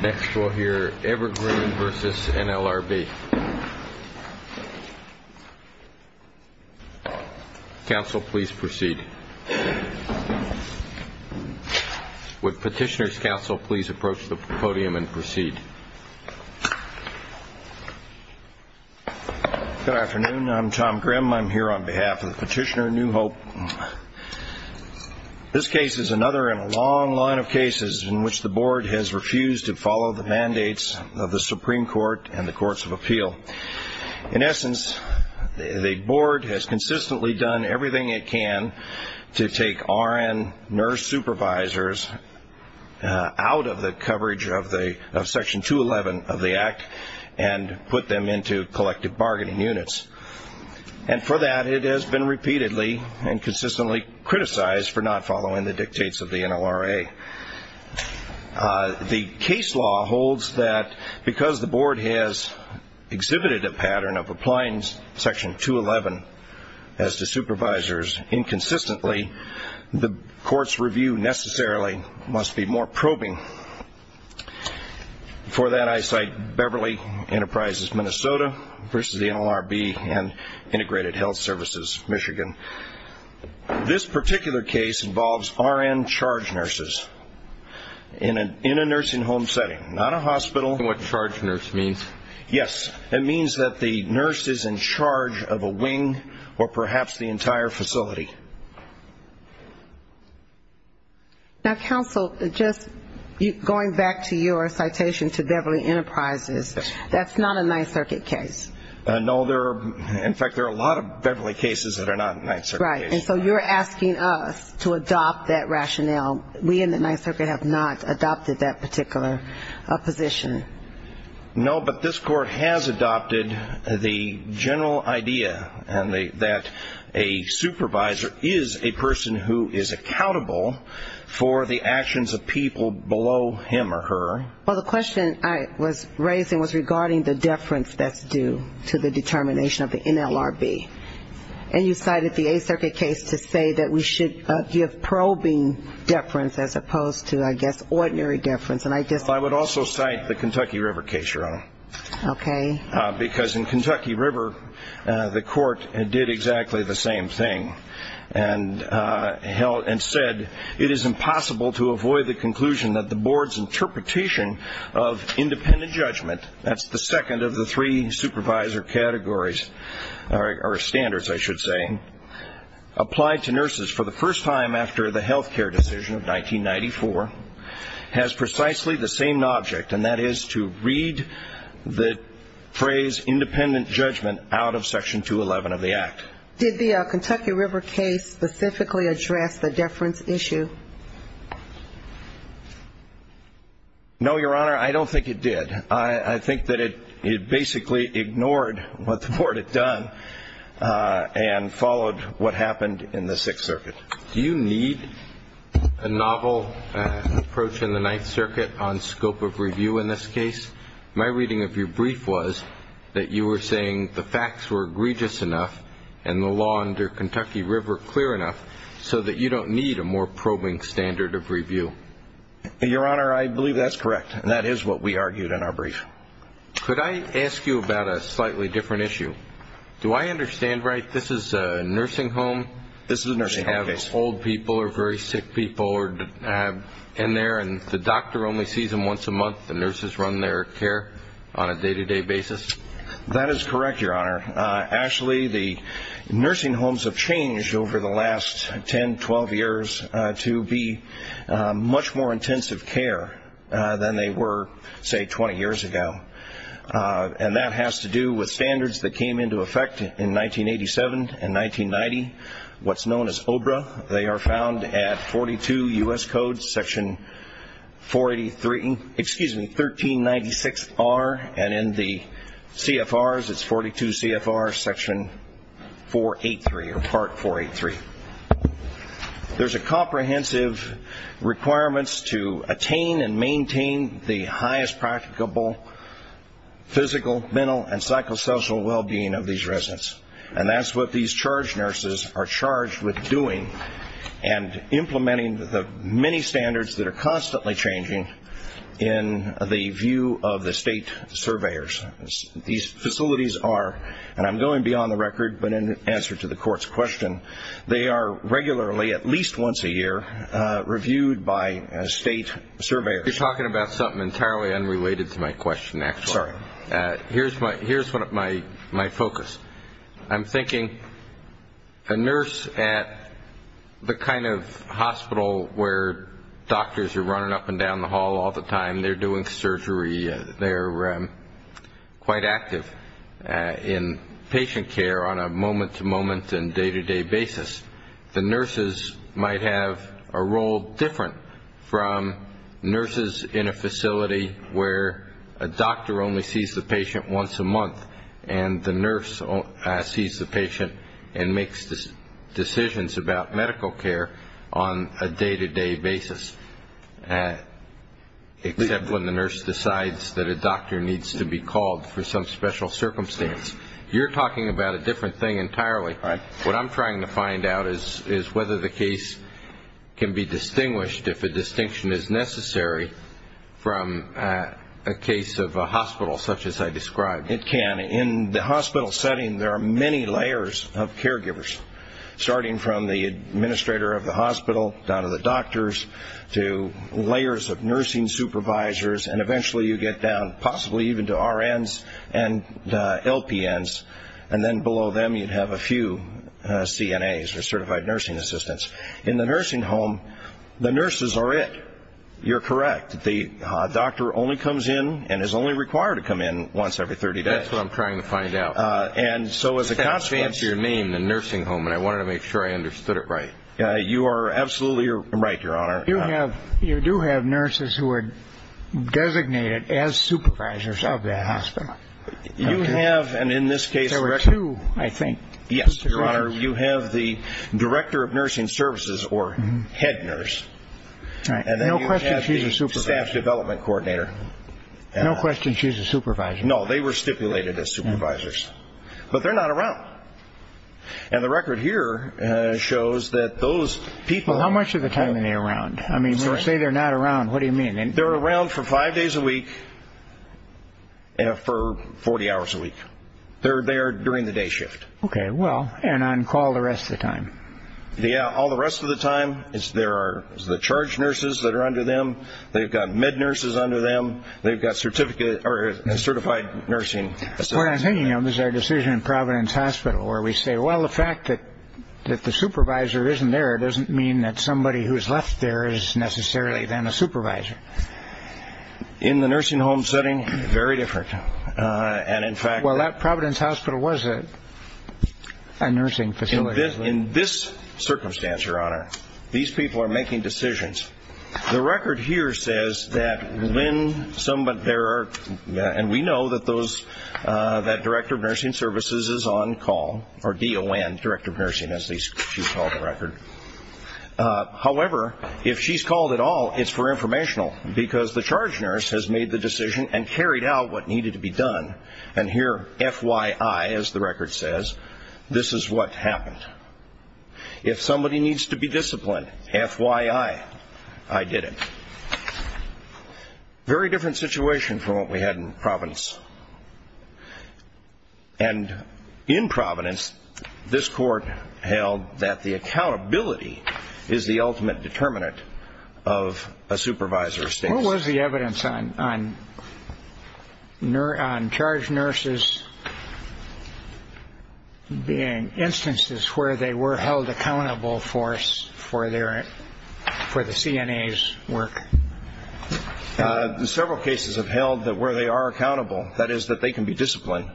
Next we'll hear Evergreen v. NLRB. Counsel, please proceed. Would Petitioner's Counsel please approach the podium and proceed? Good afternoon. I'm Tom Grimm. I'm here on behalf of the petitioner, New Hope. This case is another in a long line of cases in which the Board has refused to follow the mandates of the Supreme Court and the Courts of Appeal. In essence, the Board has consistently done everything it can to take RN nurse supervisors out of the coverage of Section 211 of the Act and put them into collective bargaining units. And for that, it has been repeatedly and consistently criticized for not following the dictates of the NLRA. The case law holds that because the Board has exhibited a pattern of applying Section 211 as to supervisors inconsistently, the Court's review necessarily must be more probing. For that, I cite Beverly Enterprises, Minnesota v. NLRB and Integrated Health Services, Michigan. This particular case involves RN charge nurses in a nursing home setting, not a hospital. What charge nurse means? Yes, it means that the nurse is in charge of a wing or perhaps the entire facility. Now, Counsel, just going back to your citation to Beverly Enterprises, that's not a Ninth Circuit case. No. In fact, there are a lot of Beverly cases that are not Ninth Circuit cases. Right. And so you're asking us to adopt that rationale. We in the Ninth Circuit have not adopted that particular position. No, but this Court has adopted the general idea that a supervisor is a person who is accountable for the actions of people below him or her. Well, the question I was raising was regarding the deference that's due to the determination of the NLRB. And you cited the Eighth Circuit case to say that we should give probing deference as opposed to, I guess, ordinary deference. I would also cite the Kentucky River case, Your Honor. Okay. Because in Kentucky River, the Court did exactly the same thing and said, it is impossible to avoid the conclusion that the Board's interpretation of independent judgment, that's the second of the three supervisor categories or standards, I should say, applied to nurses for the first time after the health care decision of 1994, has precisely the same object, and that is to read the phrase independent judgment out of Section 211 of the Act. Did the Kentucky River case specifically address the deference issue? No, Your Honor. I don't think it did. I think that it basically ignored what the Board had done and followed what happened in the Sixth Circuit. Do you need a novel approach in the Ninth Circuit on scope of review in this case? My reading of your brief was that you were saying the facts were egregious enough and the law under Kentucky River clear enough so that you don't need a more probing standard of review. Your Honor, I believe that's correct, and that is what we argued in our brief. Could I ask you about a slightly different issue? Do I understand right this is a nursing home? This is a nursing home case. Old people or very sick people are in there, and the doctor only sees them once a month. The nurses run their care on a day-to-day basis. That is correct, Your Honor. Actually, the nursing homes have changed over the last 10, 12 years to be much more intensive care than they were, say, 20 years ago, and that has to do with standards that came into effect in 1987 and 1990, what's known as OBRA. They are found at 42 U.S. Code section 483, excuse me, 1396R, and in the CFRs it's 42 CFR section 483 or part 483. There's a comprehensive requirement to attain and maintain the highest practicable physical, mental, and psychosocial well-being of these residents, and that's what these charge nurses are charged with doing and implementing the many standards that are constantly changing in the view of the state surveyors. These facilities are, and I'm going beyond the record, but in answer to the Court's question, they are regularly, at least once a year, reviewed by state surveyors. You're talking about something entirely unrelated to my question, actually. Sorry. Here's my focus. I'm thinking a nurse at the kind of hospital where doctors are running up and down the hall all the time, they're doing surgery, they're quite active in patient care on a moment-to-moment and day-to-day basis, the nurses might have a role different from nurses in a facility where a doctor only sees the patient once a month and the nurse sees the patient and makes decisions about medical care on a day-to-day basis, except when the nurse decides that a doctor needs to be called for some special circumstance. You're talking about a different thing entirely. What I'm trying to find out is whether the case can be distinguished, if a distinction is necessary, from a case of a hospital such as I described. It can. In the hospital setting, there are many layers of caregivers, starting from the administrator of the hospital down to the doctors to layers of nursing supervisors, and eventually you get down possibly even to RNs and LPNs, and then below them you'd have a few CNAs or Certified Nursing Assistants. In the nursing home, the nurses are it. You're correct. The doctor only comes in and is only required to come in once every 30 days. That's what I'm trying to find out. And so as a consequence... You can't fancy your name, the nursing home, and I wanted to make sure I understood it right. You are absolutely right, Your Honor. You do have nurses who are designated as supervisors of that hospital. You have, and in this case... There were two, I think. Yes, Your Honor. You have the director of nursing services or head nurse. No question she's a supervisor. And then you have the staff development coordinator. No question she's a supervisor. No, they were stipulated as supervisors. But they're not around. And the record here shows that those people... Well, how much of the time are they around? I mean, when I say they're not around, what do you mean? They're around for five days a week and for 40 hours a week. They're there during the day shift. Okay, well, and on call the rest of the time. Yeah, all the rest of the time there are the charge nurses that are under them. They've got med nurses under them. They've got certified nursing assistants. What I'm thinking of is our decision in Providence Hospital where we say, Well, the fact that the supervisor isn't there doesn't mean that somebody who's left there is necessarily then a supervisor. In the nursing home setting, very different. And in fact... Well, that Providence Hospital was a nursing facility. In this circumstance, Your Honor, these people are making decisions. The record here says that when somebody... And we know that Director of Nursing Services is on call, or DON, Director of Nursing, as she's called the record. However, if she's called at all, it's for informational, because the charge nurse has made the decision and carried out what needed to be done. And here, FYI, as the record says, this is what happened. If somebody needs to be disciplined, FYI, I did it. Very different situation from what we had in Providence. And in Providence, this court held that the accountability is the ultimate determinant of a supervisor's status. What was the evidence on charge nurses being instances where they were held accountable for the CNA's work? Several cases have held that where they are accountable, that is, that they can be disciplined.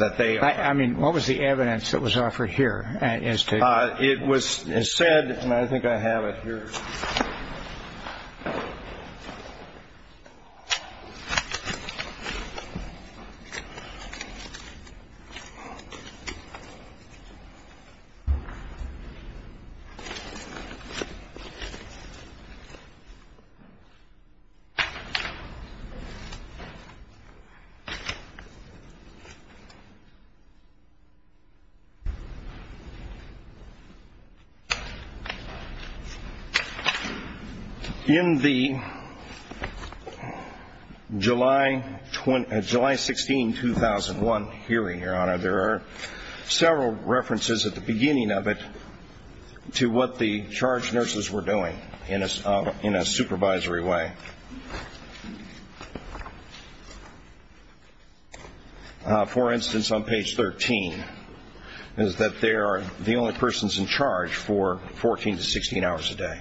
I mean, what was the evidence that was offered here? It was said, and I think I have it here. In the July 16, 2001 hearing, Your Honor, there are several references at the beginning of it to what the charge nurses were doing in a supervisory way. For instance, on page 13, is that they are the only persons in charge for 14 to 16 hours a day.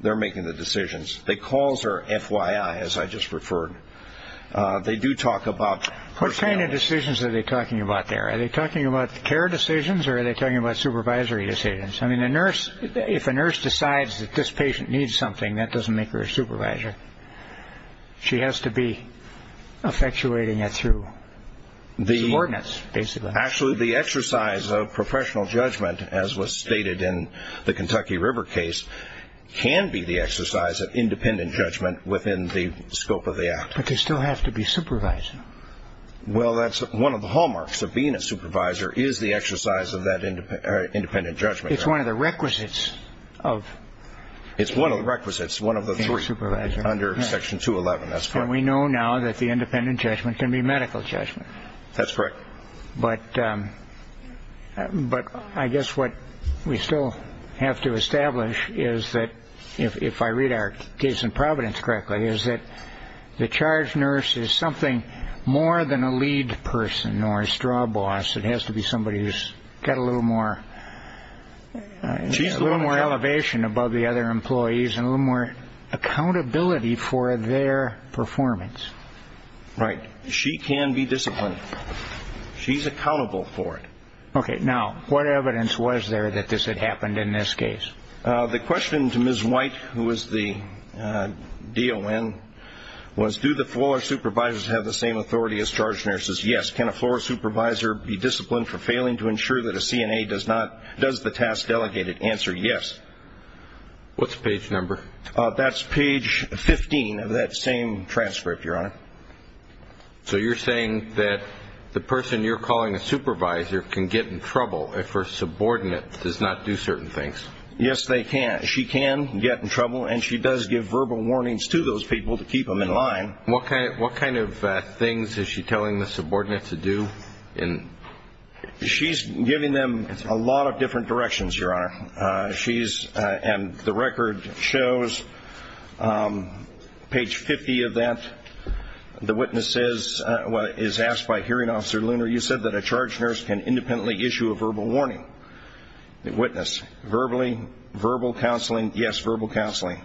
They're making the decisions. The calls are FYI, as I just referred. They do talk about personnel. What kind of decisions are they talking about there? Are they talking about care decisions, or are they talking about supervisory decisions? I mean, if a nurse decides that this patient needs something, that doesn't make her a supervisor. She has to be effectuating it through subordinates, basically. Actually, the exercise of professional judgment, as was stated in the Kentucky River case, can be the exercise of independent judgment within the scope of the act. But they still have to be supervising. Well, that's one of the hallmarks of being a supervisor, is the exercise of that independent judgment. It's one of the requisites of being a supervisor. It's one of the requisites, one of the three, under Section 211. That's correct. And we know now that the independent judgment can be medical judgment. That's correct. But I guess what we still have to establish is that, if I read our case in Providence correctly, is that the charge nurse is something more than a lead person or a straw boss. It has to be somebody who's got a little more elevation above the other employees and a little more accountability for their performance. Right. She can be disciplined. She's accountable for it. Okay. Now, what evidence was there that this had happened in this case? The question to Ms. White, who was the DON, was, do the floor supervisors have the same authority as charge nurses? Yes. Can a floor supervisor be disciplined for failing to ensure that a CNA does the task delegated? Answer, yes. What's the page number? That's page 15 of that same transcript, Your Honor. So you're saying that the person you're calling a supervisor can get in trouble if her subordinate does not do certain things? Yes, they can. She can get in trouble, and she does give verbal warnings to those people to keep them in line. What kind of things is she telling the subordinate to do? She's giving them a lot of different directions, Your Honor. And the record shows, page 50 of that, the witness is asked by Hearing Officer Luner, you said that a charge nurse can independently issue a verbal warning. The witness, verbal counseling, yes, verbal counseling.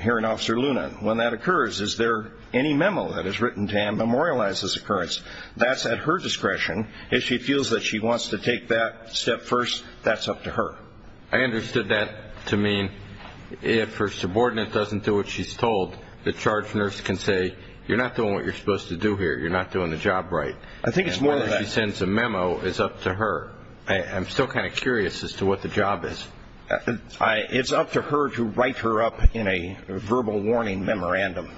Hearing Officer Luner, when that occurs, is there any memo that is written to him that memorializes this occurrence? That's at her discretion. If she feels that she wants to take that step first, that's up to her. I understood that to mean if her subordinate doesn't do what she's told, the charge nurse can say, you're not doing what you're supposed to do here, you're not doing the job right. I think it's more of that. Whether she sends a memo is up to her. I'm still kind of curious as to what the job is. It's up to her to write her up in a verbal warning memorandum.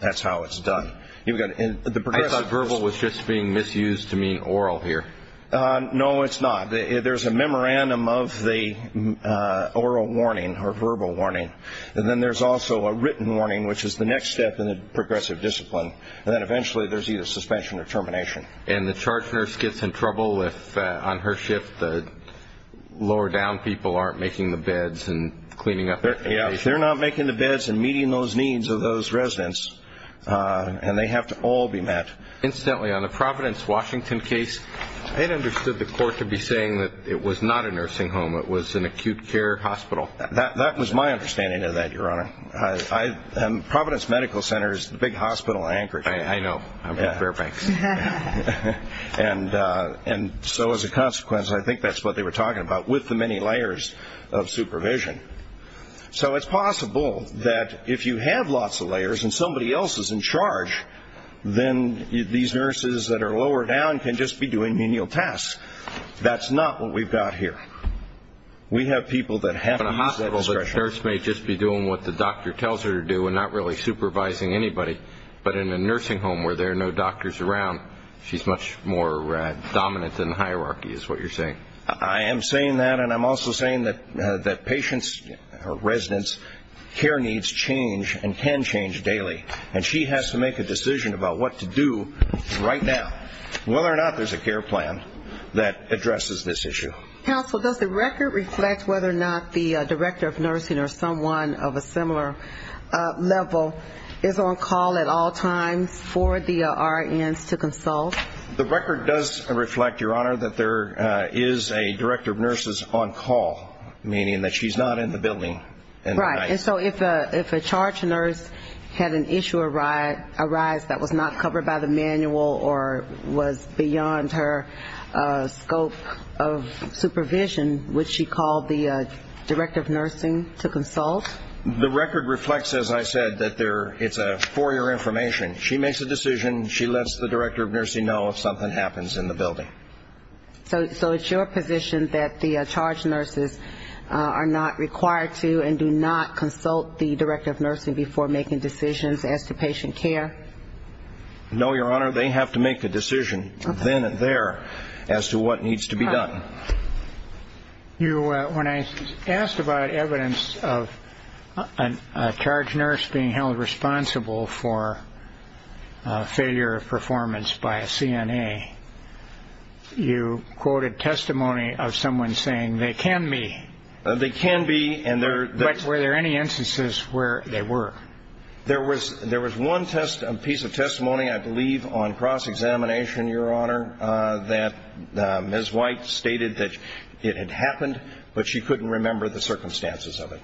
That's how it's done. I thought verbal was just being misused to mean oral here. No, it's not. There's a memorandum of the oral warning or verbal warning, and then there's also a written warning, which is the next step in the progressive discipline, and then eventually there's either suspension or termination. And the charge nurse gets in trouble if, on her shift, the lower-down people aren't making the beds and cleaning up the place? Yeah, if they're not making the beds and meeting those needs of those residents, and they have to all be met. Incidentally, on the Providence, Washington case, I had understood the court to be saying that it was not a nursing home, it was an acute care hospital. That was my understanding of that, Your Honor. Providence Medical Center is the big hospital in Anchorage. I know. I'm from Fairfax. And so as a consequence, I think that's what they were talking about with the many layers of supervision. So it's possible that if you have lots of layers and somebody else is in charge, then these nurses that are lower down can just be doing menial tasks. That's not what we've got here. We have people that have to use that discretion. But in a hospital, the nurse may just be doing what the doctor tells her to do and not really supervising anybody. But in a nursing home where there are no doctors around, she's much more dominant in the hierarchy is what you're saying. I am saying that, and I'm also saying that patients or residents' care needs change and can change daily. And she has to make a decision about what to do right now, whether or not there's a care plan that addresses this issue. Counsel, does the record reflect whether or not the director of nursing or someone of a similar level is on call at all times for the RNs to consult? The record does reflect, Your Honor, that there is a director of nurses on call, meaning that she's not in the building. Right. And so if a charge nurse had an issue arise that was not covered by the manual or was beyond her scope of supervision, would she call the director of nursing to consult? The record reflects, as I said, that it's a four-year information. She makes a decision. She lets the director of nursing know if something happens in the building. So it's your position that the charge nurses are not required to and do not consult the director of nursing before making decisions as to patient care? No, Your Honor. They have to make the decision then and there as to what needs to be done. When I asked about evidence of a charge nurse being held responsible for failure of performance by a CNA, you quoted testimony of someone saying they can be. They can be. But were there any instances where they were? There was one piece of testimony, I believe, on cross-examination, Your Honor, that Ms. White stated that it had happened, but she couldn't remember the circumstances of it.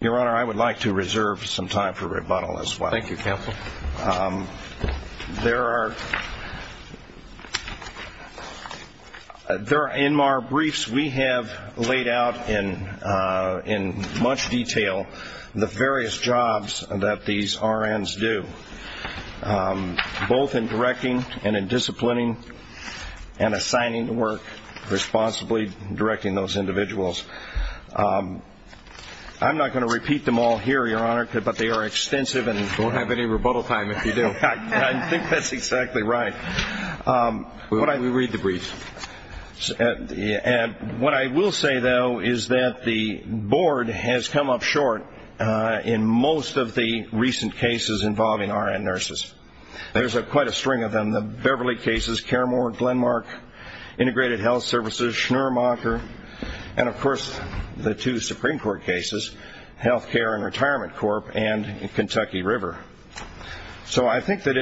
Your Honor, I would like to reserve some time for rebuttal as well. Thank you, counsel. There are NMAR briefs. We have laid out in much detail the various jobs that these RNs do, both in directing and in disciplining and assigning to work, responsibly directing those individuals. I'm not going to repeat them all here, Your Honor, but they are extensive. Don't have any rebuttal time if you do. I think that's exactly right. We'll read the brief. What I will say, though, is that the board has come up short in most of the recent cases involving RN nurses. There's quite a string of them. The Beverly cases, Caremore, Glenmark, Integrated Health Services, Schnur-Macher, and, of course, the two Supreme Court cases, Health Care and Retirement Corp. and Kentucky River. So I think that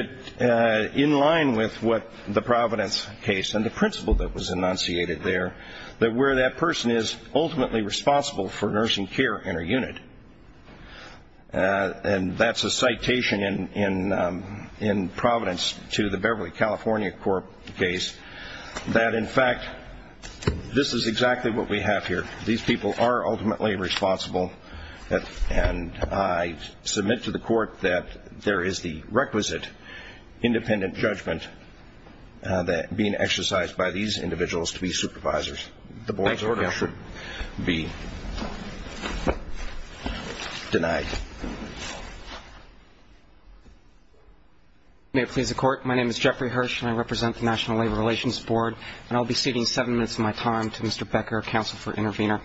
in line with what the Providence case and the principle that was enunciated there, that where that person is ultimately responsible for nursing care in her unit, and that's a citation in Providence to the Beverly California Corp. case, that, in fact, this is exactly what we have here. These people are ultimately responsible, and I submit to the Court that there is the requisite independent judgment being exercised by these individuals to be supervisors. The board's order should be denied. May it please the Court. My name is Jeffrey Hirsch, and I represent the National Labor Relations Board, and I'll be ceding seven minutes of my time to Mr. Becker, Counsel for Intervenor.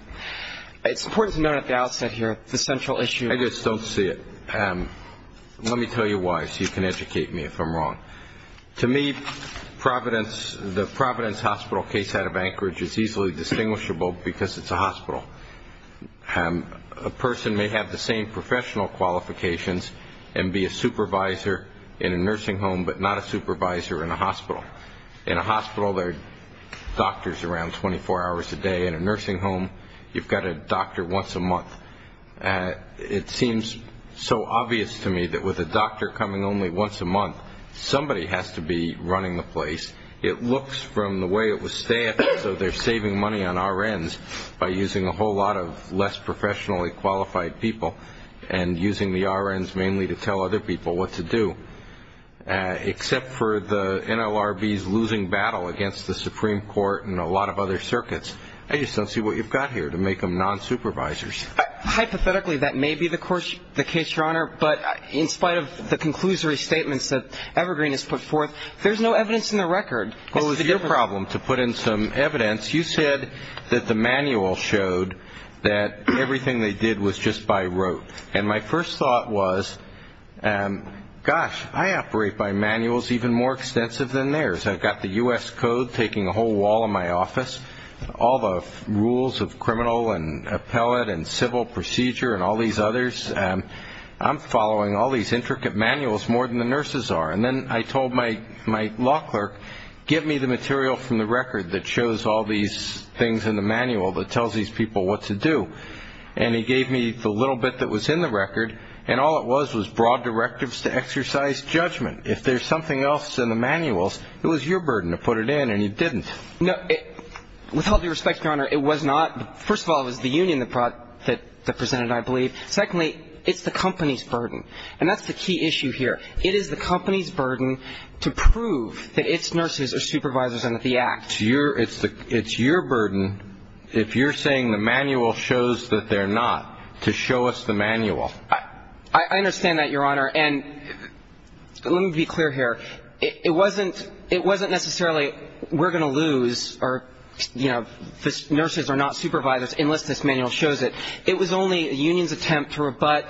It's important to note at the outset here the central issue. I just don't see it. Let me tell you why so you can educate me if I'm wrong. To me, the Providence Hospital case out of Anchorage is easily distinguishable because it's a hospital. A person may have the same professional qualifications and be a supervisor in a nursing home, but not a supervisor in a hospital. In a hospital, there are doctors around 24 hours a day. In a nursing home, you've got a doctor once a month. It seems so obvious to me that with a doctor coming only once a month, somebody has to be running the place. It looks from the way it was staffed, so they're saving money on R.N.s. by using a whole lot of less professionally qualified people and using the R.N.s. mainly to tell other people what to do. Except for the NLRB's losing battle against the Supreme Court and a lot of other circuits, I just don't see what you've got here to make them nonsupervisors. Hypothetically, that may be the case, Your Honor, but in spite of the conclusory statements that Evergreen has put forth, there's no evidence in the record. What was your problem? To put in some evidence, you said that the manual showed that everything they did was just by rote. And my first thought was, gosh, I operate by manuals even more extensive than theirs. I've got the U.S. Code taking a whole wall in my office, all the rules of criminal and appellate and civil procedure and all these others. I'm following all these intricate manuals more than the nurses are. And then I told my law clerk, give me the material from the record that shows all these things in the manual that tells these people what to do. And he gave me the little bit that was in the record, and all it was was broad directives to exercise judgment. If there's something else in the manuals, it was your burden to put it in, and you didn't. No. With all due respect, Your Honor, it was not. First of all, it was the union that presented it, I believe. Secondly, it's the company's burden. And that's the key issue here. It is the company's burden to prove that its nurses are supervisors under the Act. It's your burden, if you're saying the manual shows that they're not, to show us the manual. I understand that, Your Honor. And let me be clear here. It wasn't necessarily we're going to lose or, you know, the nurses are not supervisors unless this manual shows it. It was only a union's attempt to rebut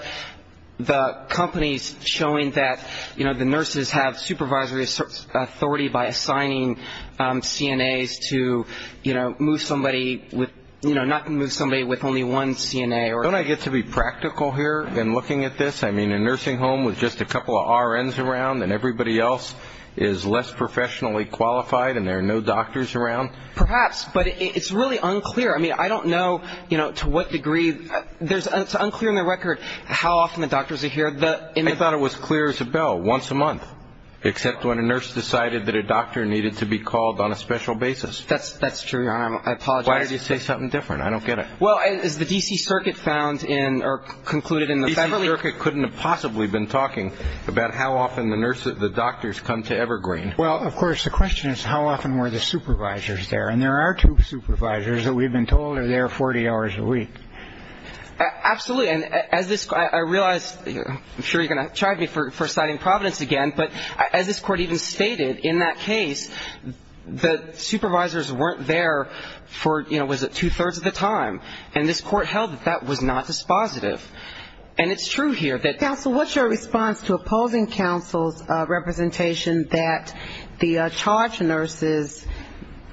the company's showing that, you know, the nurses have supervisory authority by assigning CNAs to, you know, move somebody with, you know, not move somebody with only one CNA. Don't I get to be practical here in looking at this? I mean, a nursing home with just a couple of RNs around and everybody else is less professionally qualified and there are no doctors around? Perhaps, but it's really unclear. I mean, I don't know, you know, to what degree. It's unclear on the record how often the doctors are here. I thought it was clear as a bell, once a month, except when a nurse decided that a doctor needed to be called on a special basis. That's true, Your Honor. I apologize. Why did you say something different? I don't get it. Well, as the D.C. Circuit found in or concluded in the February. The D.C. Circuit couldn't have possibly been talking about how often the doctors come to Evergreen. Well, of course, the question is how often were the supervisors there? And there are two supervisors that we've been told are there 40 hours a week. Absolutely. And as this, I realize, I'm sure you're going to charge me for citing Providence again, but as this court even stated, in that case, the supervisors weren't there for, you know, was it two-thirds of the time? And this court held that that was not dispositive. And it's true here. Counsel, what's your response to opposing counsel's representation that the charge nurses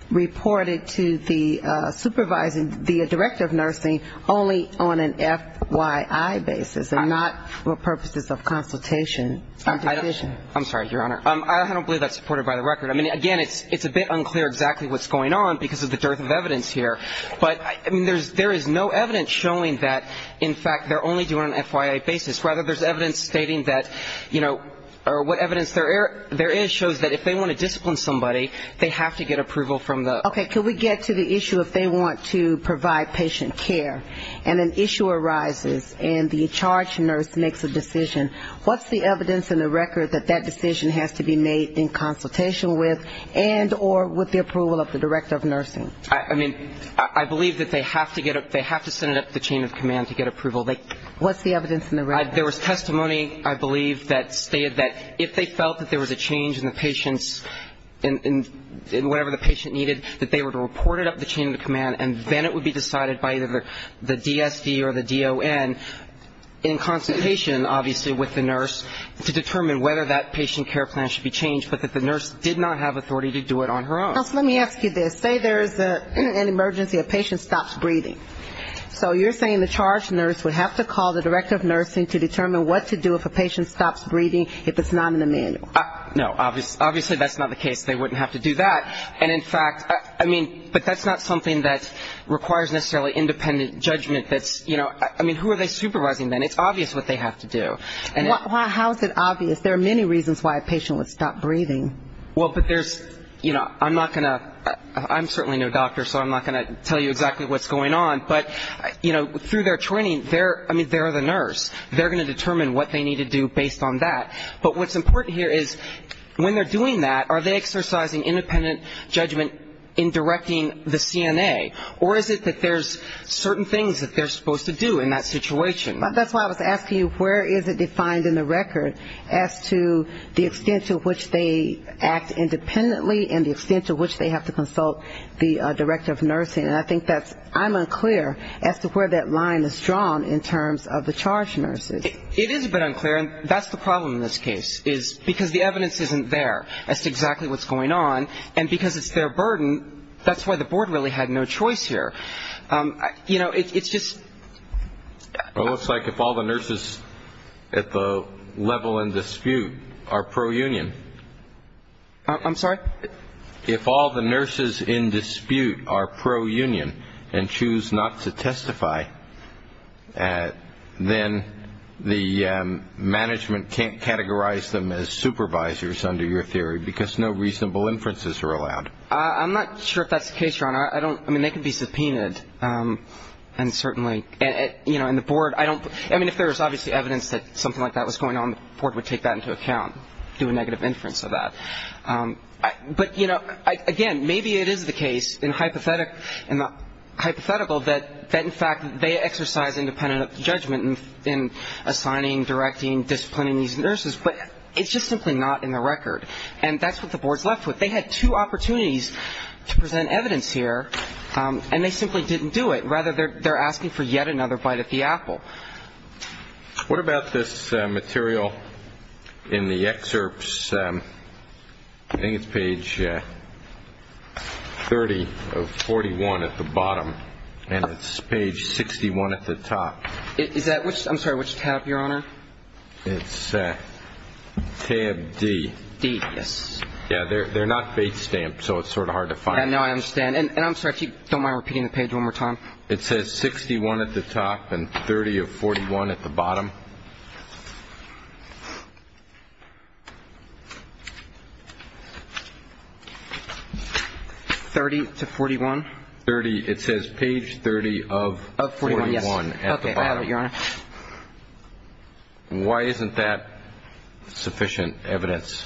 reported to the supervisor, the director of nursing, only on an FYI basis and not for purposes of consultation? I'm sorry, Your Honor. I don't believe that's supported by the record. I mean, again, it's a bit unclear exactly what's going on because of the dearth of evidence here. But, I mean, there is no evidence showing that, in fact, they're only doing it on an FYI basis. Rather, there's evidence stating that, you know, or what evidence there is shows that if they want to discipline somebody, they have to get approval from the. Okay. Can we get to the issue if they want to provide patient care and an issue arises and the charge nurse makes a decision, what's the evidence in the record that that decision has to be made in consultation with and or with the approval of the director of nursing? I mean, I believe that they have to get it, they have to send it up to the chain of command to get approval. What's the evidence in the record? There was testimony, I believe, that stated that if they felt that there was a change in the patient's, in whatever the patient needed, that they were to report it up to the chain of command and then it would be decided by either the DSD or the DON in consultation, obviously, with the nurse to determine whether that patient care plan should be changed, but that the nurse did not have authority to do it on her own. Let me ask you this. Say there is an emergency, a patient stops breathing. So you're saying the charge nurse would have to call the director of nursing to determine what to do if a patient stops breathing if it's not in the manual. No, obviously that's not the case. They wouldn't have to do that. And in fact, I mean, but that's not something that requires necessarily independent judgment that's, you know, I mean, who are they supervising then? It's obvious what they have to do. How is it obvious? There are many reasons why a patient would stop breathing. Well, but there's, you know, I'm not going to, I'm certainly no doctor, so I'm not going to tell you exactly what's going on, but, you know, through their training, I mean, they're the nurse. They're going to determine what they need to do based on that. But what's important here is when they're doing that, are they exercising independent judgment in directing the CNA, or is it that there's certain things that they're supposed to do in that situation? That's why I was asking you where is it defined in the record as to the extent to which they act independently and the extent to which they have to consult the director of nursing. And I think that's, I'm unclear as to where that line is drawn in terms of the charge nurses. It is a bit unclear, and that's the problem in this case, is because the evidence isn't there as to exactly what's going on, and because it's their burden, that's why the board really had no choice here. You know, it's just. It looks like if all the nurses at the level in dispute are pro-union. I'm sorry? If all the nurses in dispute are pro-union and choose not to testify, then the management can't categorize them as supervisors under your theory, because no reasonable inferences are allowed. I'm not sure if that's the case, Your Honor. I don't, I mean, they can be subpoenaed, and certainly, you know, and the board, I don't. I mean, if there was obviously evidence that something like that was going on, the board would take that into account, do a negative inference of that. But, you know, again, maybe it is the case in the hypothetical that, in fact, they exercise independent judgment in assigning, directing, disciplining these nurses, but it's just simply not in the record, and that's what the board's left with. They had two opportunities to present evidence here, and they simply didn't do it. Rather, they're asking for yet another bite at the apple. What about this material in the excerpts? I think it's page 30 of 41 at the bottom, and it's page 61 at the top. Is that which? I'm sorry, which tab, Your Honor? It's tab D. D, yes. Yeah, they're not base stamped, so it's sort of hard to find. Yeah, no, I understand. And I'm sorry, if you don't mind repeating the page one more time. It says 61 at the top and 30 of 41 at the bottom. 30 to 41? 30. It says page 30 of 41 at the bottom. Okay, I have it, Your Honor. Why isn't that sufficient evidence?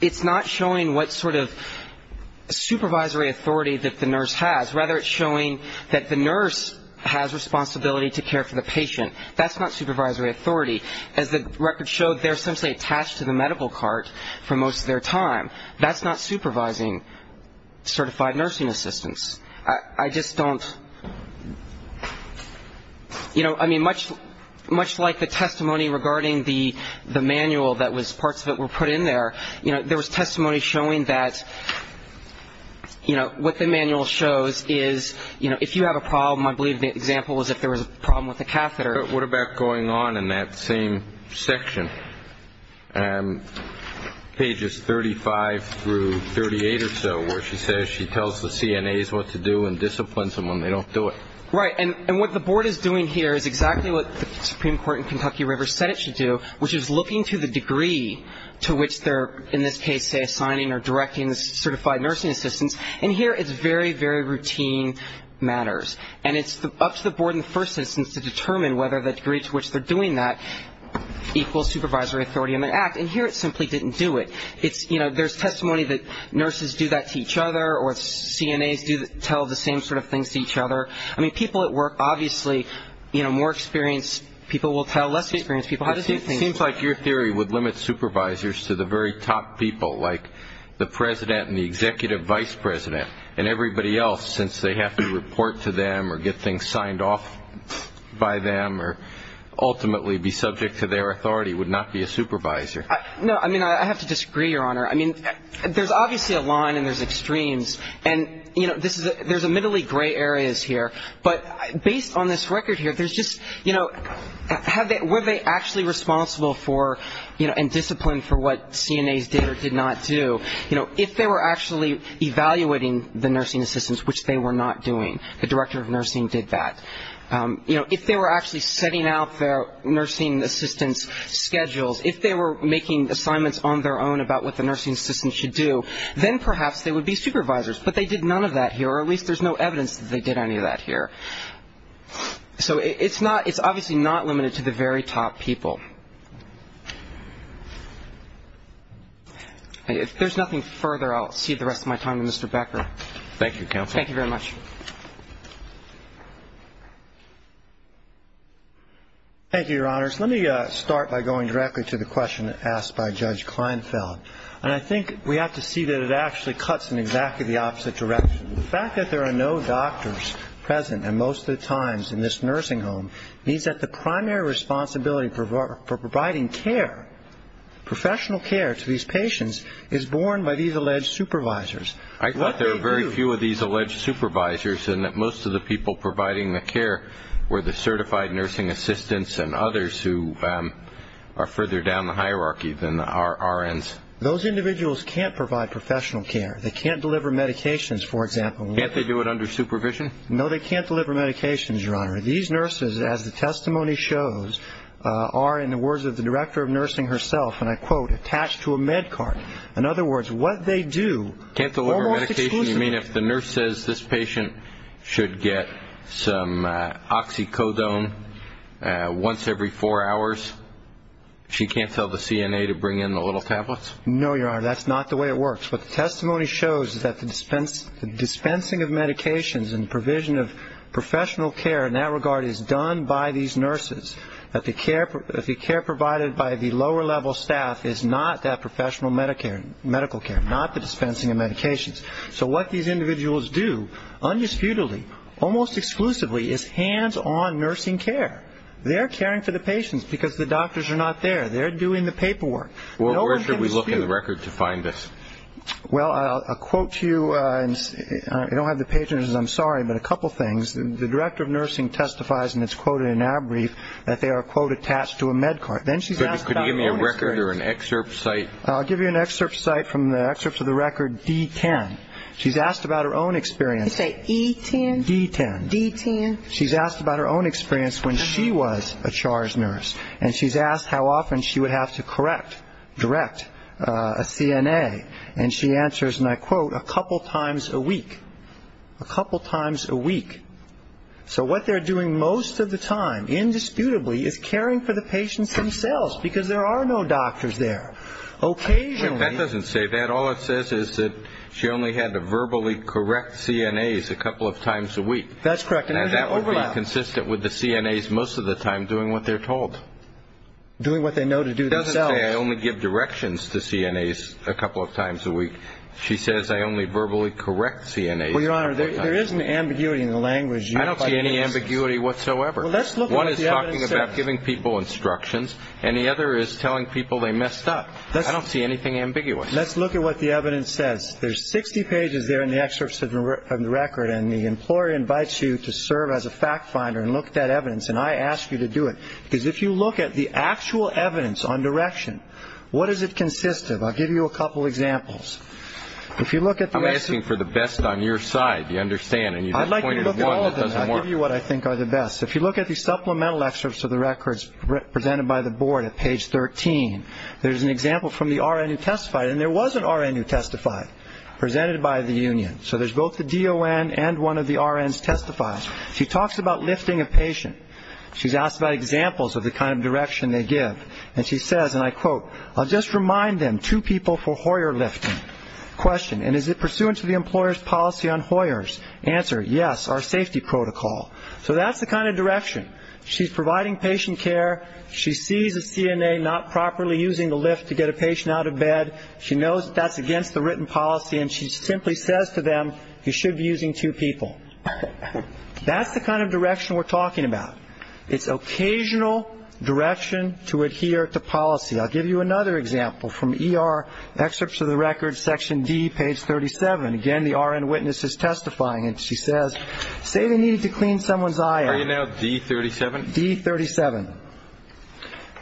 It's not showing what sort of supervisory authority that the nurse has. Rather, it's showing that the nurse has responsibility to care for the patient. That's not supervisory authority. As the record showed, they're essentially attached to the medical cart for most of their time. That's not supervising certified nursing assistants. I just don't, you know, I mean, much like the testimony regarding the manual that was parts that were put in there, you know, there was testimony showing that, you know, what the manual shows is, you know, if you have a problem, I believe the example was if there was a problem with the catheter. What about going on in that same section, pages 35 through 38 or so, where she says she tells the CNAs what to do and disciplines them when they don't do it? Right. And what the board is doing here is exactly what the Supreme Court in Kentucky River said it should do, which is looking to the degree to which they're, in this case, say, assigning or directing the certified nursing assistants. And here it's very, very routine matters. And it's up to the board in the first instance to determine whether the degree to which they're doing that equals supervisory authority in their act. And here it simply didn't do it. I mean, it's, you know, there's testimony that nurses do that to each other or CNAs tell the same sort of things to each other. I mean, people at work, obviously, you know, more experienced people will tell less experienced people how to do things. It seems like your theory would limit supervisors to the very top people, like the president and the executive vice president and everybody else, since they have to report to them or get things signed off by them or ultimately be subject to their authority, would not be a supervisor. No, I mean, I have to disagree, Your Honor. I mean, there's obviously a line and there's extremes. And, you know, there's admittedly gray areas here. But based on this record here, there's just, you know, were they actually responsible for, you know, and disciplined for what CNAs did or did not do? You know, if they were actually evaluating the nursing assistants, which they were not doing, the director of nursing did that. You know, if they were actually setting out their nursing assistants' schedules, if they were making assignments on their own about what the nursing assistants should do, then perhaps they would be supervisors. But they did none of that here, or at least there's no evidence that they did any of that here. So it's not – it's obviously not limited to the very top people. If there's nothing further, I'll cede the rest of my time to Mr. Becker. Thank you, counsel. Thank you very much. Thank you, Your Honors. Let me start by going directly to the question asked by Judge Kleinfeld. And I think we have to see that it actually cuts in exactly the opposite direction. The fact that there are no doctors present, and most of the times in this nursing home, means that the primary responsibility for providing care, professional care to these patients, is borne by these alleged supervisors. I thought there were very few of these alleged supervisors, and that most of the people providing the care were the certified nursing assistants and others who are further down the hierarchy than the RNs. Those individuals can't provide professional care. They can't deliver medications, for example. Can't they do it under supervision? No, they can't deliver medications, Your Honor. These nurses, as the testimony shows, are, in the words of the director of nursing herself, and I quote, attached to a MedCard. In other words, what they do almost exclusively – Can't deliver medication? Once every four hours? She can't tell the CNA to bring in the little tablets? No, Your Honor. That's not the way it works. What the testimony shows is that the dispensing of medications and provision of professional care in that regard is done by these nurses, that the care provided by the lower-level staff is not that professional medical care, not the dispensing of medications. So what these individuals do, undisputedly, almost exclusively, is hands-on nursing care. They're caring for the patients because the doctors are not there. They're doing the paperwork. Where should we look in the record to find this? Well, I'll quote to you. I don't have the page, and I'm sorry, but a couple things. The director of nursing testifies, and it's quoted in our brief, that they are, quote, attached to a MedCard. Could you give me a record or an excerpt site? I'll give you an excerpt site from the excerpt of the record, D-10. She's asked about her own experience. Did you say E-10? D-10. D-10. She's asked about her own experience when she was a CHARS nurse, and she's asked how often she would have to correct, direct a CNA, and she answers, and I quote, a couple times a week. A couple times a week. So what they're doing most of the time, indisputably, is caring for the patients themselves because there are no doctors there. Occasionally. That doesn't say that. All it says is that she only had to verbally correct CNAs a couple of times a week. That's correct. And that would be consistent with the CNAs most of the time doing what they're told. Doing what they know to do themselves. It doesn't say I only give directions to CNAs a couple of times a week. She says I only verbally correct CNAs a couple of times a week. Well, Your Honor, there is an ambiguity in the language. I don't see any ambiguity whatsoever. Well, let's look at what the evidence says. One is talking about giving people instructions, and the other is telling people they messed up. I don't see anything ambiguous. Let's look at what the evidence says. There's 60 pages there in the excerpts of the record, and the employer invites you to serve as a fact finder and look at that evidence, and I ask you to do it because if you look at the actual evidence on direction, what does it consist of? I'll give you a couple examples. I'm asking for the best on your side. Do you understand? I'd like you to look at all of them. I'll give you what I think are the best. If you look at the supplemental excerpts of the records presented by the board at page 13, there's an example from the RN who testified, and there was an RN who testified, presented by the union. So there's both the DON and one of the RNs testifying. She talks about lifting a patient. She's asked about examples of the kind of direction they give, and she says, and I quote, I'll just remind them, two people for Hoyer lifting. Question, and is it pursuant to the employer's policy on Hoyer's? Answer, yes, our safety protocol. So that's the kind of direction. She's providing patient care. She sees a CNA not properly using the lift to get a patient out of bed. She knows that's against the written policy, and she simply says to them you should be using two people. That's the kind of direction we're talking about. It's occasional direction to adhere to policy. I'll give you another example from ER excerpts of the records, section D, page 37. Again, the RN witness is testifying, and she says, say they needed to clean someone's eye out. Are you now D37? D37.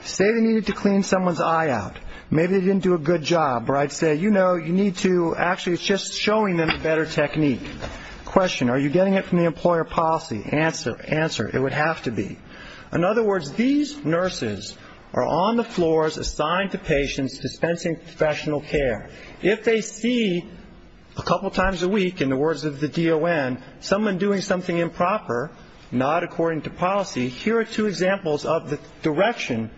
Say they needed to clean someone's eye out. Maybe they didn't do a good job, or I'd say, you know, you need to, actually it's just showing them a better technique. Question, are you getting it from the employer policy? Answer, answer, it would have to be. In other words, these nurses are on the floors assigned to patients dispensing professional care. If they see a couple times a week, in the words of the DON, someone doing something improper, not according to policy, here are two examples of the direction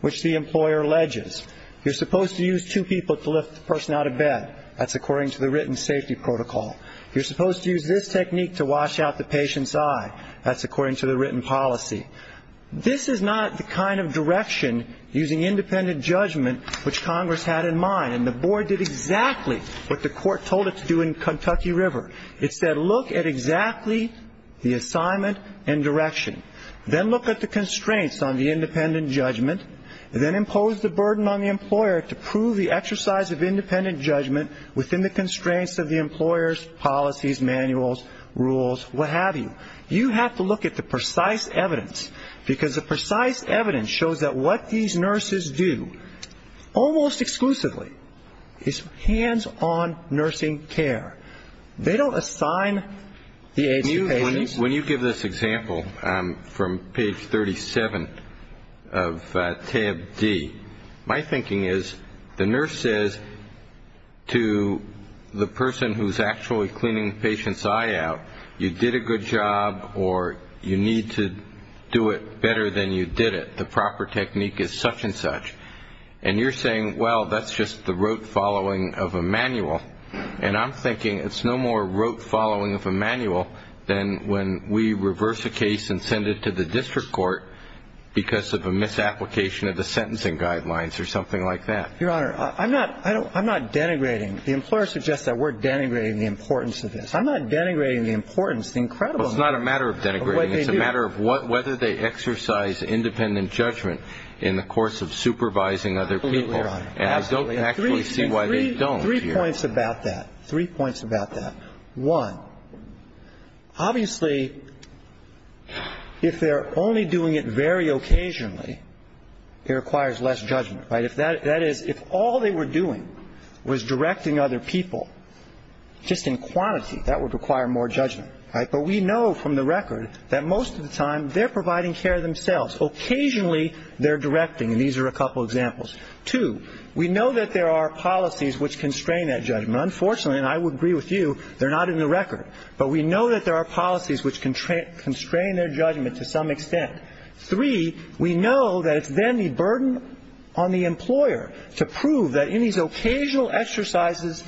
which the employer alleges. You're supposed to use two people to lift the person out of bed. That's according to the written safety protocol. You're supposed to use this technique to wash out the patient's eye. That's according to the written policy. This is not the kind of direction using independent judgment which Congress had in mind, and the board did exactly what the court told it to do in Kentucky River. It said, look at exactly the assignment and direction. Then look at the constraints on the independent judgment. Then impose the burden on the employer to prove the exercise of independent judgment within the constraints of the employer's policies, manuals, rules, what have you. You have to look at the precise evidence, because the precise evidence shows that what these nurses do, almost exclusively, is hands-on nursing care. They don't assign the aids to patients. When you give this example from page 37 of tab D, my thinking is the nurse says to the person who's actually cleaning the patient's eye out, you did a good job or you need to do it better than you did it. The proper technique is such and such. And you're saying, well, that's just the rote following of a manual. And I'm thinking it's no more rote following of a manual than when we reverse a case and send it to the district court because of a misapplication of the sentencing guidelines or something like that. Your Honor, I'm not denigrating. The employer suggests that we're denigrating the importance of this. I'm not denigrating the importance, the incredible importance of what they do. Well, it's not a matter of denigrating. It's a matter of whether they exercise independent judgment in the course of supervising other people. Absolutely, Your Honor. And I don't actually see why they don't. Three points about that. Three points about that. One, obviously, if they're only doing it very occasionally, it requires less judgment. That is, if all they were doing was directing other people just in quantity, that would require more judgment. But we know from the record that most of the time they're providing care themselves. Occasionally they're directing. And these are a couple of examples. Two, we know that there are policies which constrain that judgment. Unfortunately, and I would agree with you, they're not in the record. But we know that there are policies which constrain their judgment to some extent. Three, we know that it's then the burden on the employer to prove that in these occasional exercises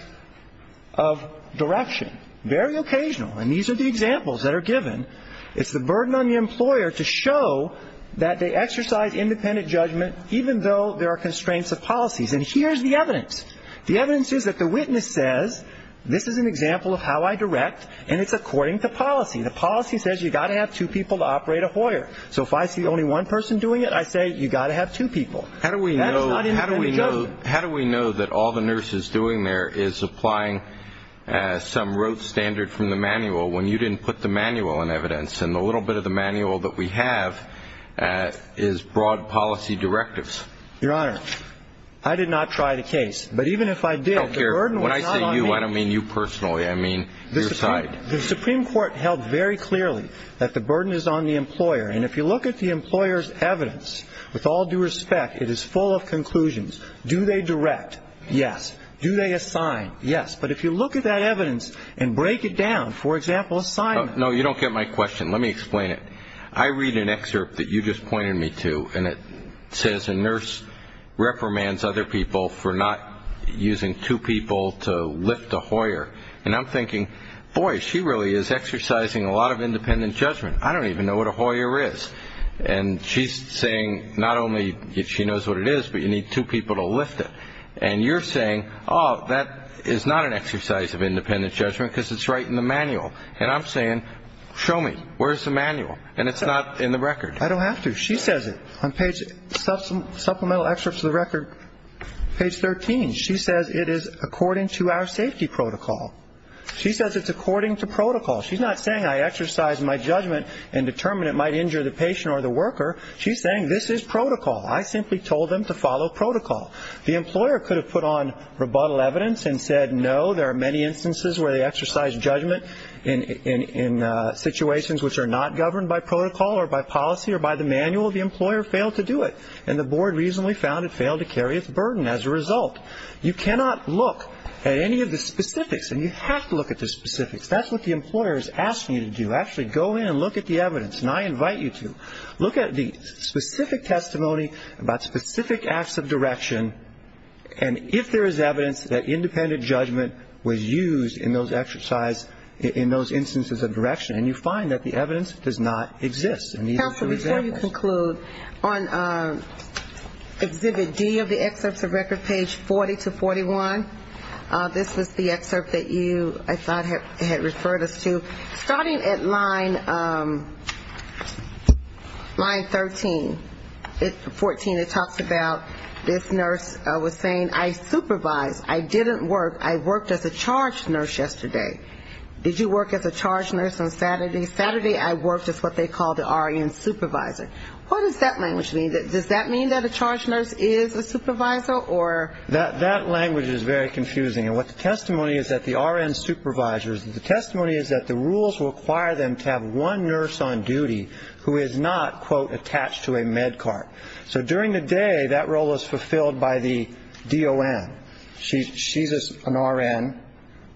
of direction, very occasional, and these are the examples that are given, it's the burden on the employer to show that they exercise independent judgment even though there are constraints of policies. And here's the evidence. The evidence is that the witness says, this is an example of how I direct, and it's according to policy. The policy says you've got to have two people to operate a hoyer. So if I see only one person doing it, I say you've got to have two people. That is not independent judgment. How do we know that all the nurse is doing there is applying some rote standard from the manual when you didn't put the manual in evidence, and the little bit of the manual that we have is broad policy directives? Your Honor, I did not try the case, but even if I did, the burden was not on me. When I say you, I don't mean you personally. I mean your side. The Supreme Court held very clearly that the burden is on the employer, and if you look at the employer's evidence, with all due respect, it is full of conclusions. Do they direct? Yes. Do they assign? Yes. But if you look at that evidence and break it down, for example, assignment. No, you don't get my question. Let me explain it. I read an excerpt that you just pointed me to, and it says a nurse reprimands other people for not using two people to lift a hoyer, and I'm thinking, boy, she really is exercising a lot of independent judgment. I don't even know what a hoyer is. And she's saying not only that she knows what it is, but you need two people to lift it. And you're saying, oh, that is not an exercise of independent judgment because it's right in the manual. And I'm saying, show me. Where is the manual? And it's not in the record. I don't have to. She says it on page 13. She says it is according to our safety protocol. She says it's according to protocol. She's not saying I exercise my judgment and determine it might injure the patient or the worker. She's saying this is protocol. I simply told them to follow protocol. The employer could have put on rebuttal evidence and said, no, there are many instances where they exercise judgment in situations which are not governed by protocol or by policy or by the manual. The employer failed to do it. And the board reasonably found it failed to carry its burden as a result. You cannot look at any of the specifics, and you have to look at the specifics. That's what the employer is asking you to do. Actually go in and look at the evidence, and I invite you to. Look at the specific testimony about specific acts of direction, and if there is evidence that independent judgment was used in those instances of direction. And you find that the evidence does not exist. Counsel, before you conclude, on Exhibit D of the excerpts of record, page 40 to 41, this was the excerpt that you, I thought, had referred us to. Starting at line 13, 14, it talks about this nurse was saying, I supervised. I didn't work. I worked as a charge nurse yesterday. Did you work as a charge nurse on Saturday? Saturday I worked as what they call the RN supervisor. What does that language mean? Does that mean that a charge nurse is a supervisor, or? That language is very confusing. And what the testimony is that the RN supervisors, the testimony is that the rules require them to have one nurse on duty who is not, quote, attached to a med cart. So during the day, that role is fulfilled by the DON. She's an RN.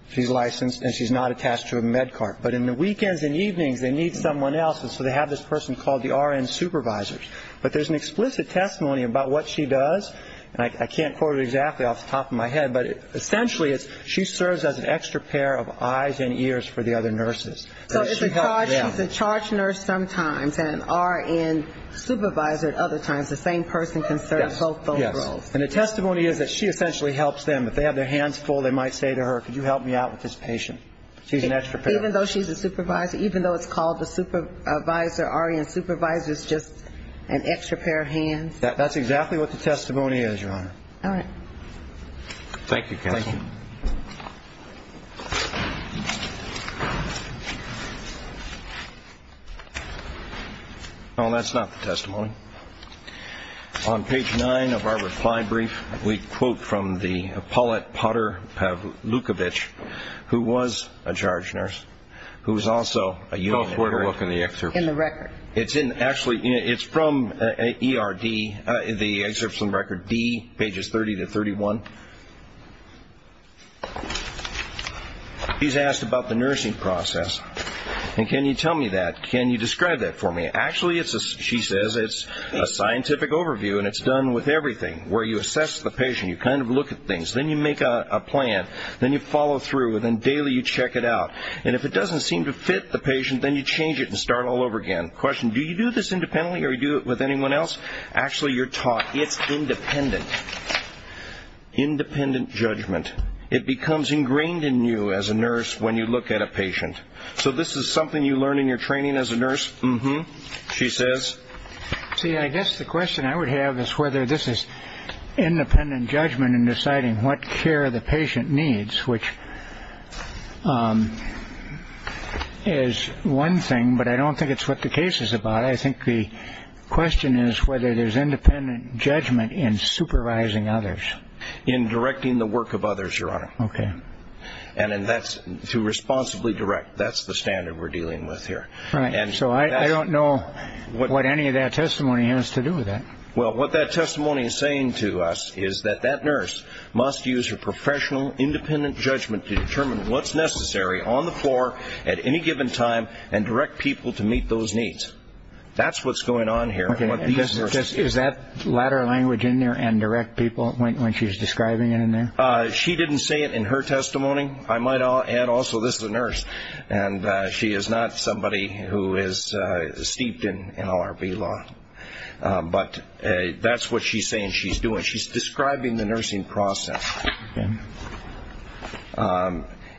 She's licensed, and she's not attached to a med cart. But in the weekends and evenings, they need someone else, and so they have this person called the RN supervisor. But there's an explicit testimony about what she does, and I can't quote it exactly off the top of my head, but essentially she serves as an extra pair of eyes and ears for the other nurses. So she's a charge nurse sometimes, and RN supervisor at other times. The same person can serve both roles. Yes. And the testimony is that she essentially helps them. If they have their hands full, they might say to her, could you help me out with this patient? She's an extra pair. Even though she's a supervisor, even though it's called a supervisor, RN supervisor is just an extra pair of hands. That's exactly what the testimony is, Your Honor. All right. Thank you, counsel. Thank you. Well, that's not the testimony. On page 9 of our reply brief, we quote from the appellate Potter Pavlukovich, who was a charge nurse, who was also a unit nurse. Go forward and look in the excerpt. In the record. Actually, it's from ERD, the excerpt from record D, pages 30 to 31. He's asked about the nursing process, and can you tell me that? Can you describe that for me? Actually, she says, it's a scientific overview, and it's done with everything, where you assess the patient, you kind of look at things, then you make a plan, then you follow through, and then daily you check it out. And if it doesn't seem to fit the patient, then you change it and start all over again. Question, do you do this independently or do you do it with anyone else? Actually, you're taught it's independent. Independent judgment. It becomes ingrained in you as a nurse when you look at a patient. So this is something you learn in your training as a nurse? Mm-hmm. She says? See, I guess the question I would have is whether this is independent judgment in deciding what care the patient needs, which is one thing, but I don't think it's what the case is about. I think the question is whether there's independent judgment in supervising others. In directing the work of others, Your Honor. Okay. And that's to responsibly direct. That's the standard we're dealing with here. Right. So I don't know what any of that testimony has to do with that. Well, what that testimony is saying to us is that that nurse must use her professional, independent judgment to determine what's necessary on the floor at any given time and direct people to meet those needs. That's what's going on here. Is that latter language in there and direct people when she's describing it in there? She didn't say it in her testimony. I might add also this is a nurse, and she is not somebody who is steeped in LRB law. But that's what she's saying she's doing. She's describing the nursing process.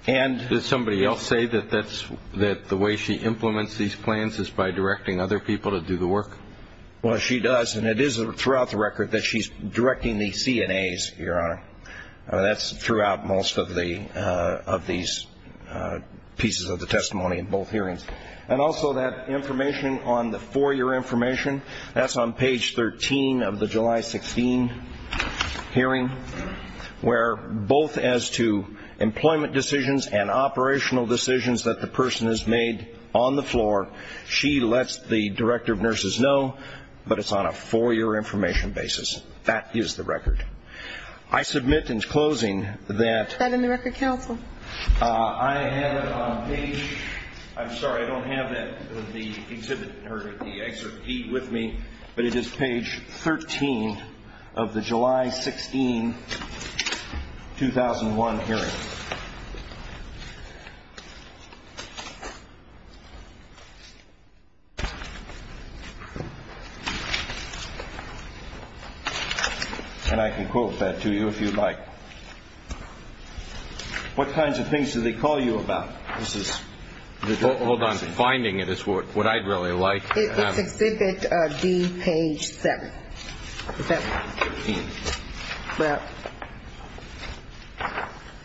Did somebody else say that the way she implements these plans is by directing other people to do the work? Well, she does, and it is throughout the record that she's directing the CNAs, Your Honor. That's throughout most of these pieces of the testimony in both hearings. And also that information on the four-year information, that's on page 13 of the July 16 hearing, where both as to employment decisions and operational decisions that the person has made on the floor, she lets the director of nurses know, but it's on a four-year information basis. That is the record. I submit in closing that I have it on page ‑‑ I'm sorry, I don't have the exhibit or the excerpt with me, but it is page 13 of the July 16, 2001 hearing. And I can quote that to you if you'd like. What kinds of things do they call you about? Hold on. Finding it is what I'd really like to have. It's exhibit D, page 7. Well,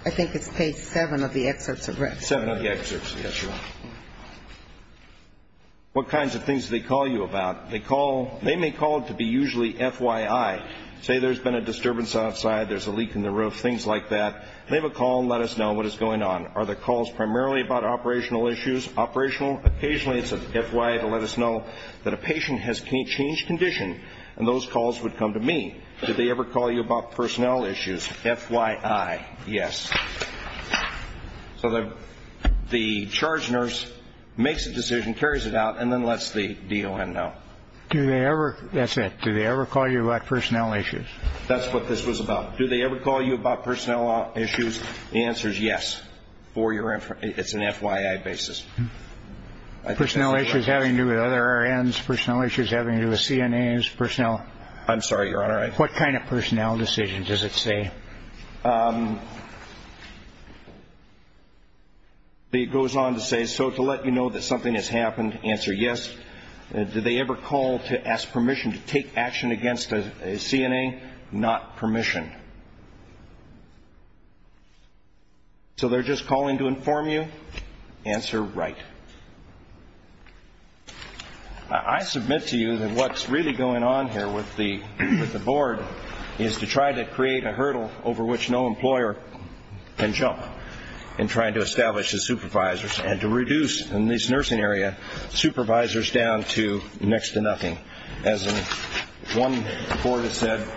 I think it's page 7 of the excerpt. 7 of the excerpt, yes, Your Honor. What kinds of things do they call you about? They call ‑‑ they may call it to be usually FYI. Say there's been a disturbance outside, there's a leak in the roof, things like that. They have a call and let us know what is going on. Are the calls primarily about operational issues, operational? Occasionally it's a FYI to let us know that a patient has changed condition, and those calls would come to me. Do they ever call you about personnel issues? FYI, yes. So the charge nurse makes a decision, carries it out, and then lets the DON know. That's it. Do they ever call you about personnel issues? That's what this was about. Do they ever call you about personnel issues? The answer is yes. It's an FYI basis. Personnel issues having to do with other RNs, personnel issues having to do with CNAs, personnel. I'm sorry, Your Honor. What kind of personnel decisions does it say? It goes on to say, so to let you know that something has happened, answer yes. Do they ever call to ask permission to take action against a CNA? Not permission. So they're just calling to inform you? Answer right. I submit to you that what's really going on here with the board is to try to create a hurdle over which no employer can jump in trying to establish the supervisors and to reduce, in this nursing area, supervisors down to next to nothing. As one board has said,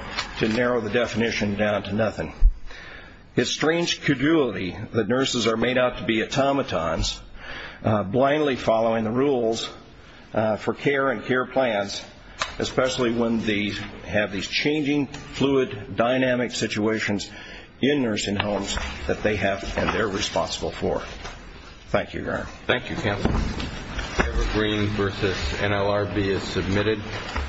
to narrow the definition down to nothing. It's strange credulity that nurses are made out to be automatons, blindly following the rules for care and care plans, especially when they have these changing, fluid, dynamic situations in nursing homes that they have and they're responsible for. Thank you, Your Honor. Thank you, Counsel. Evergreen v. NLRB is submitted.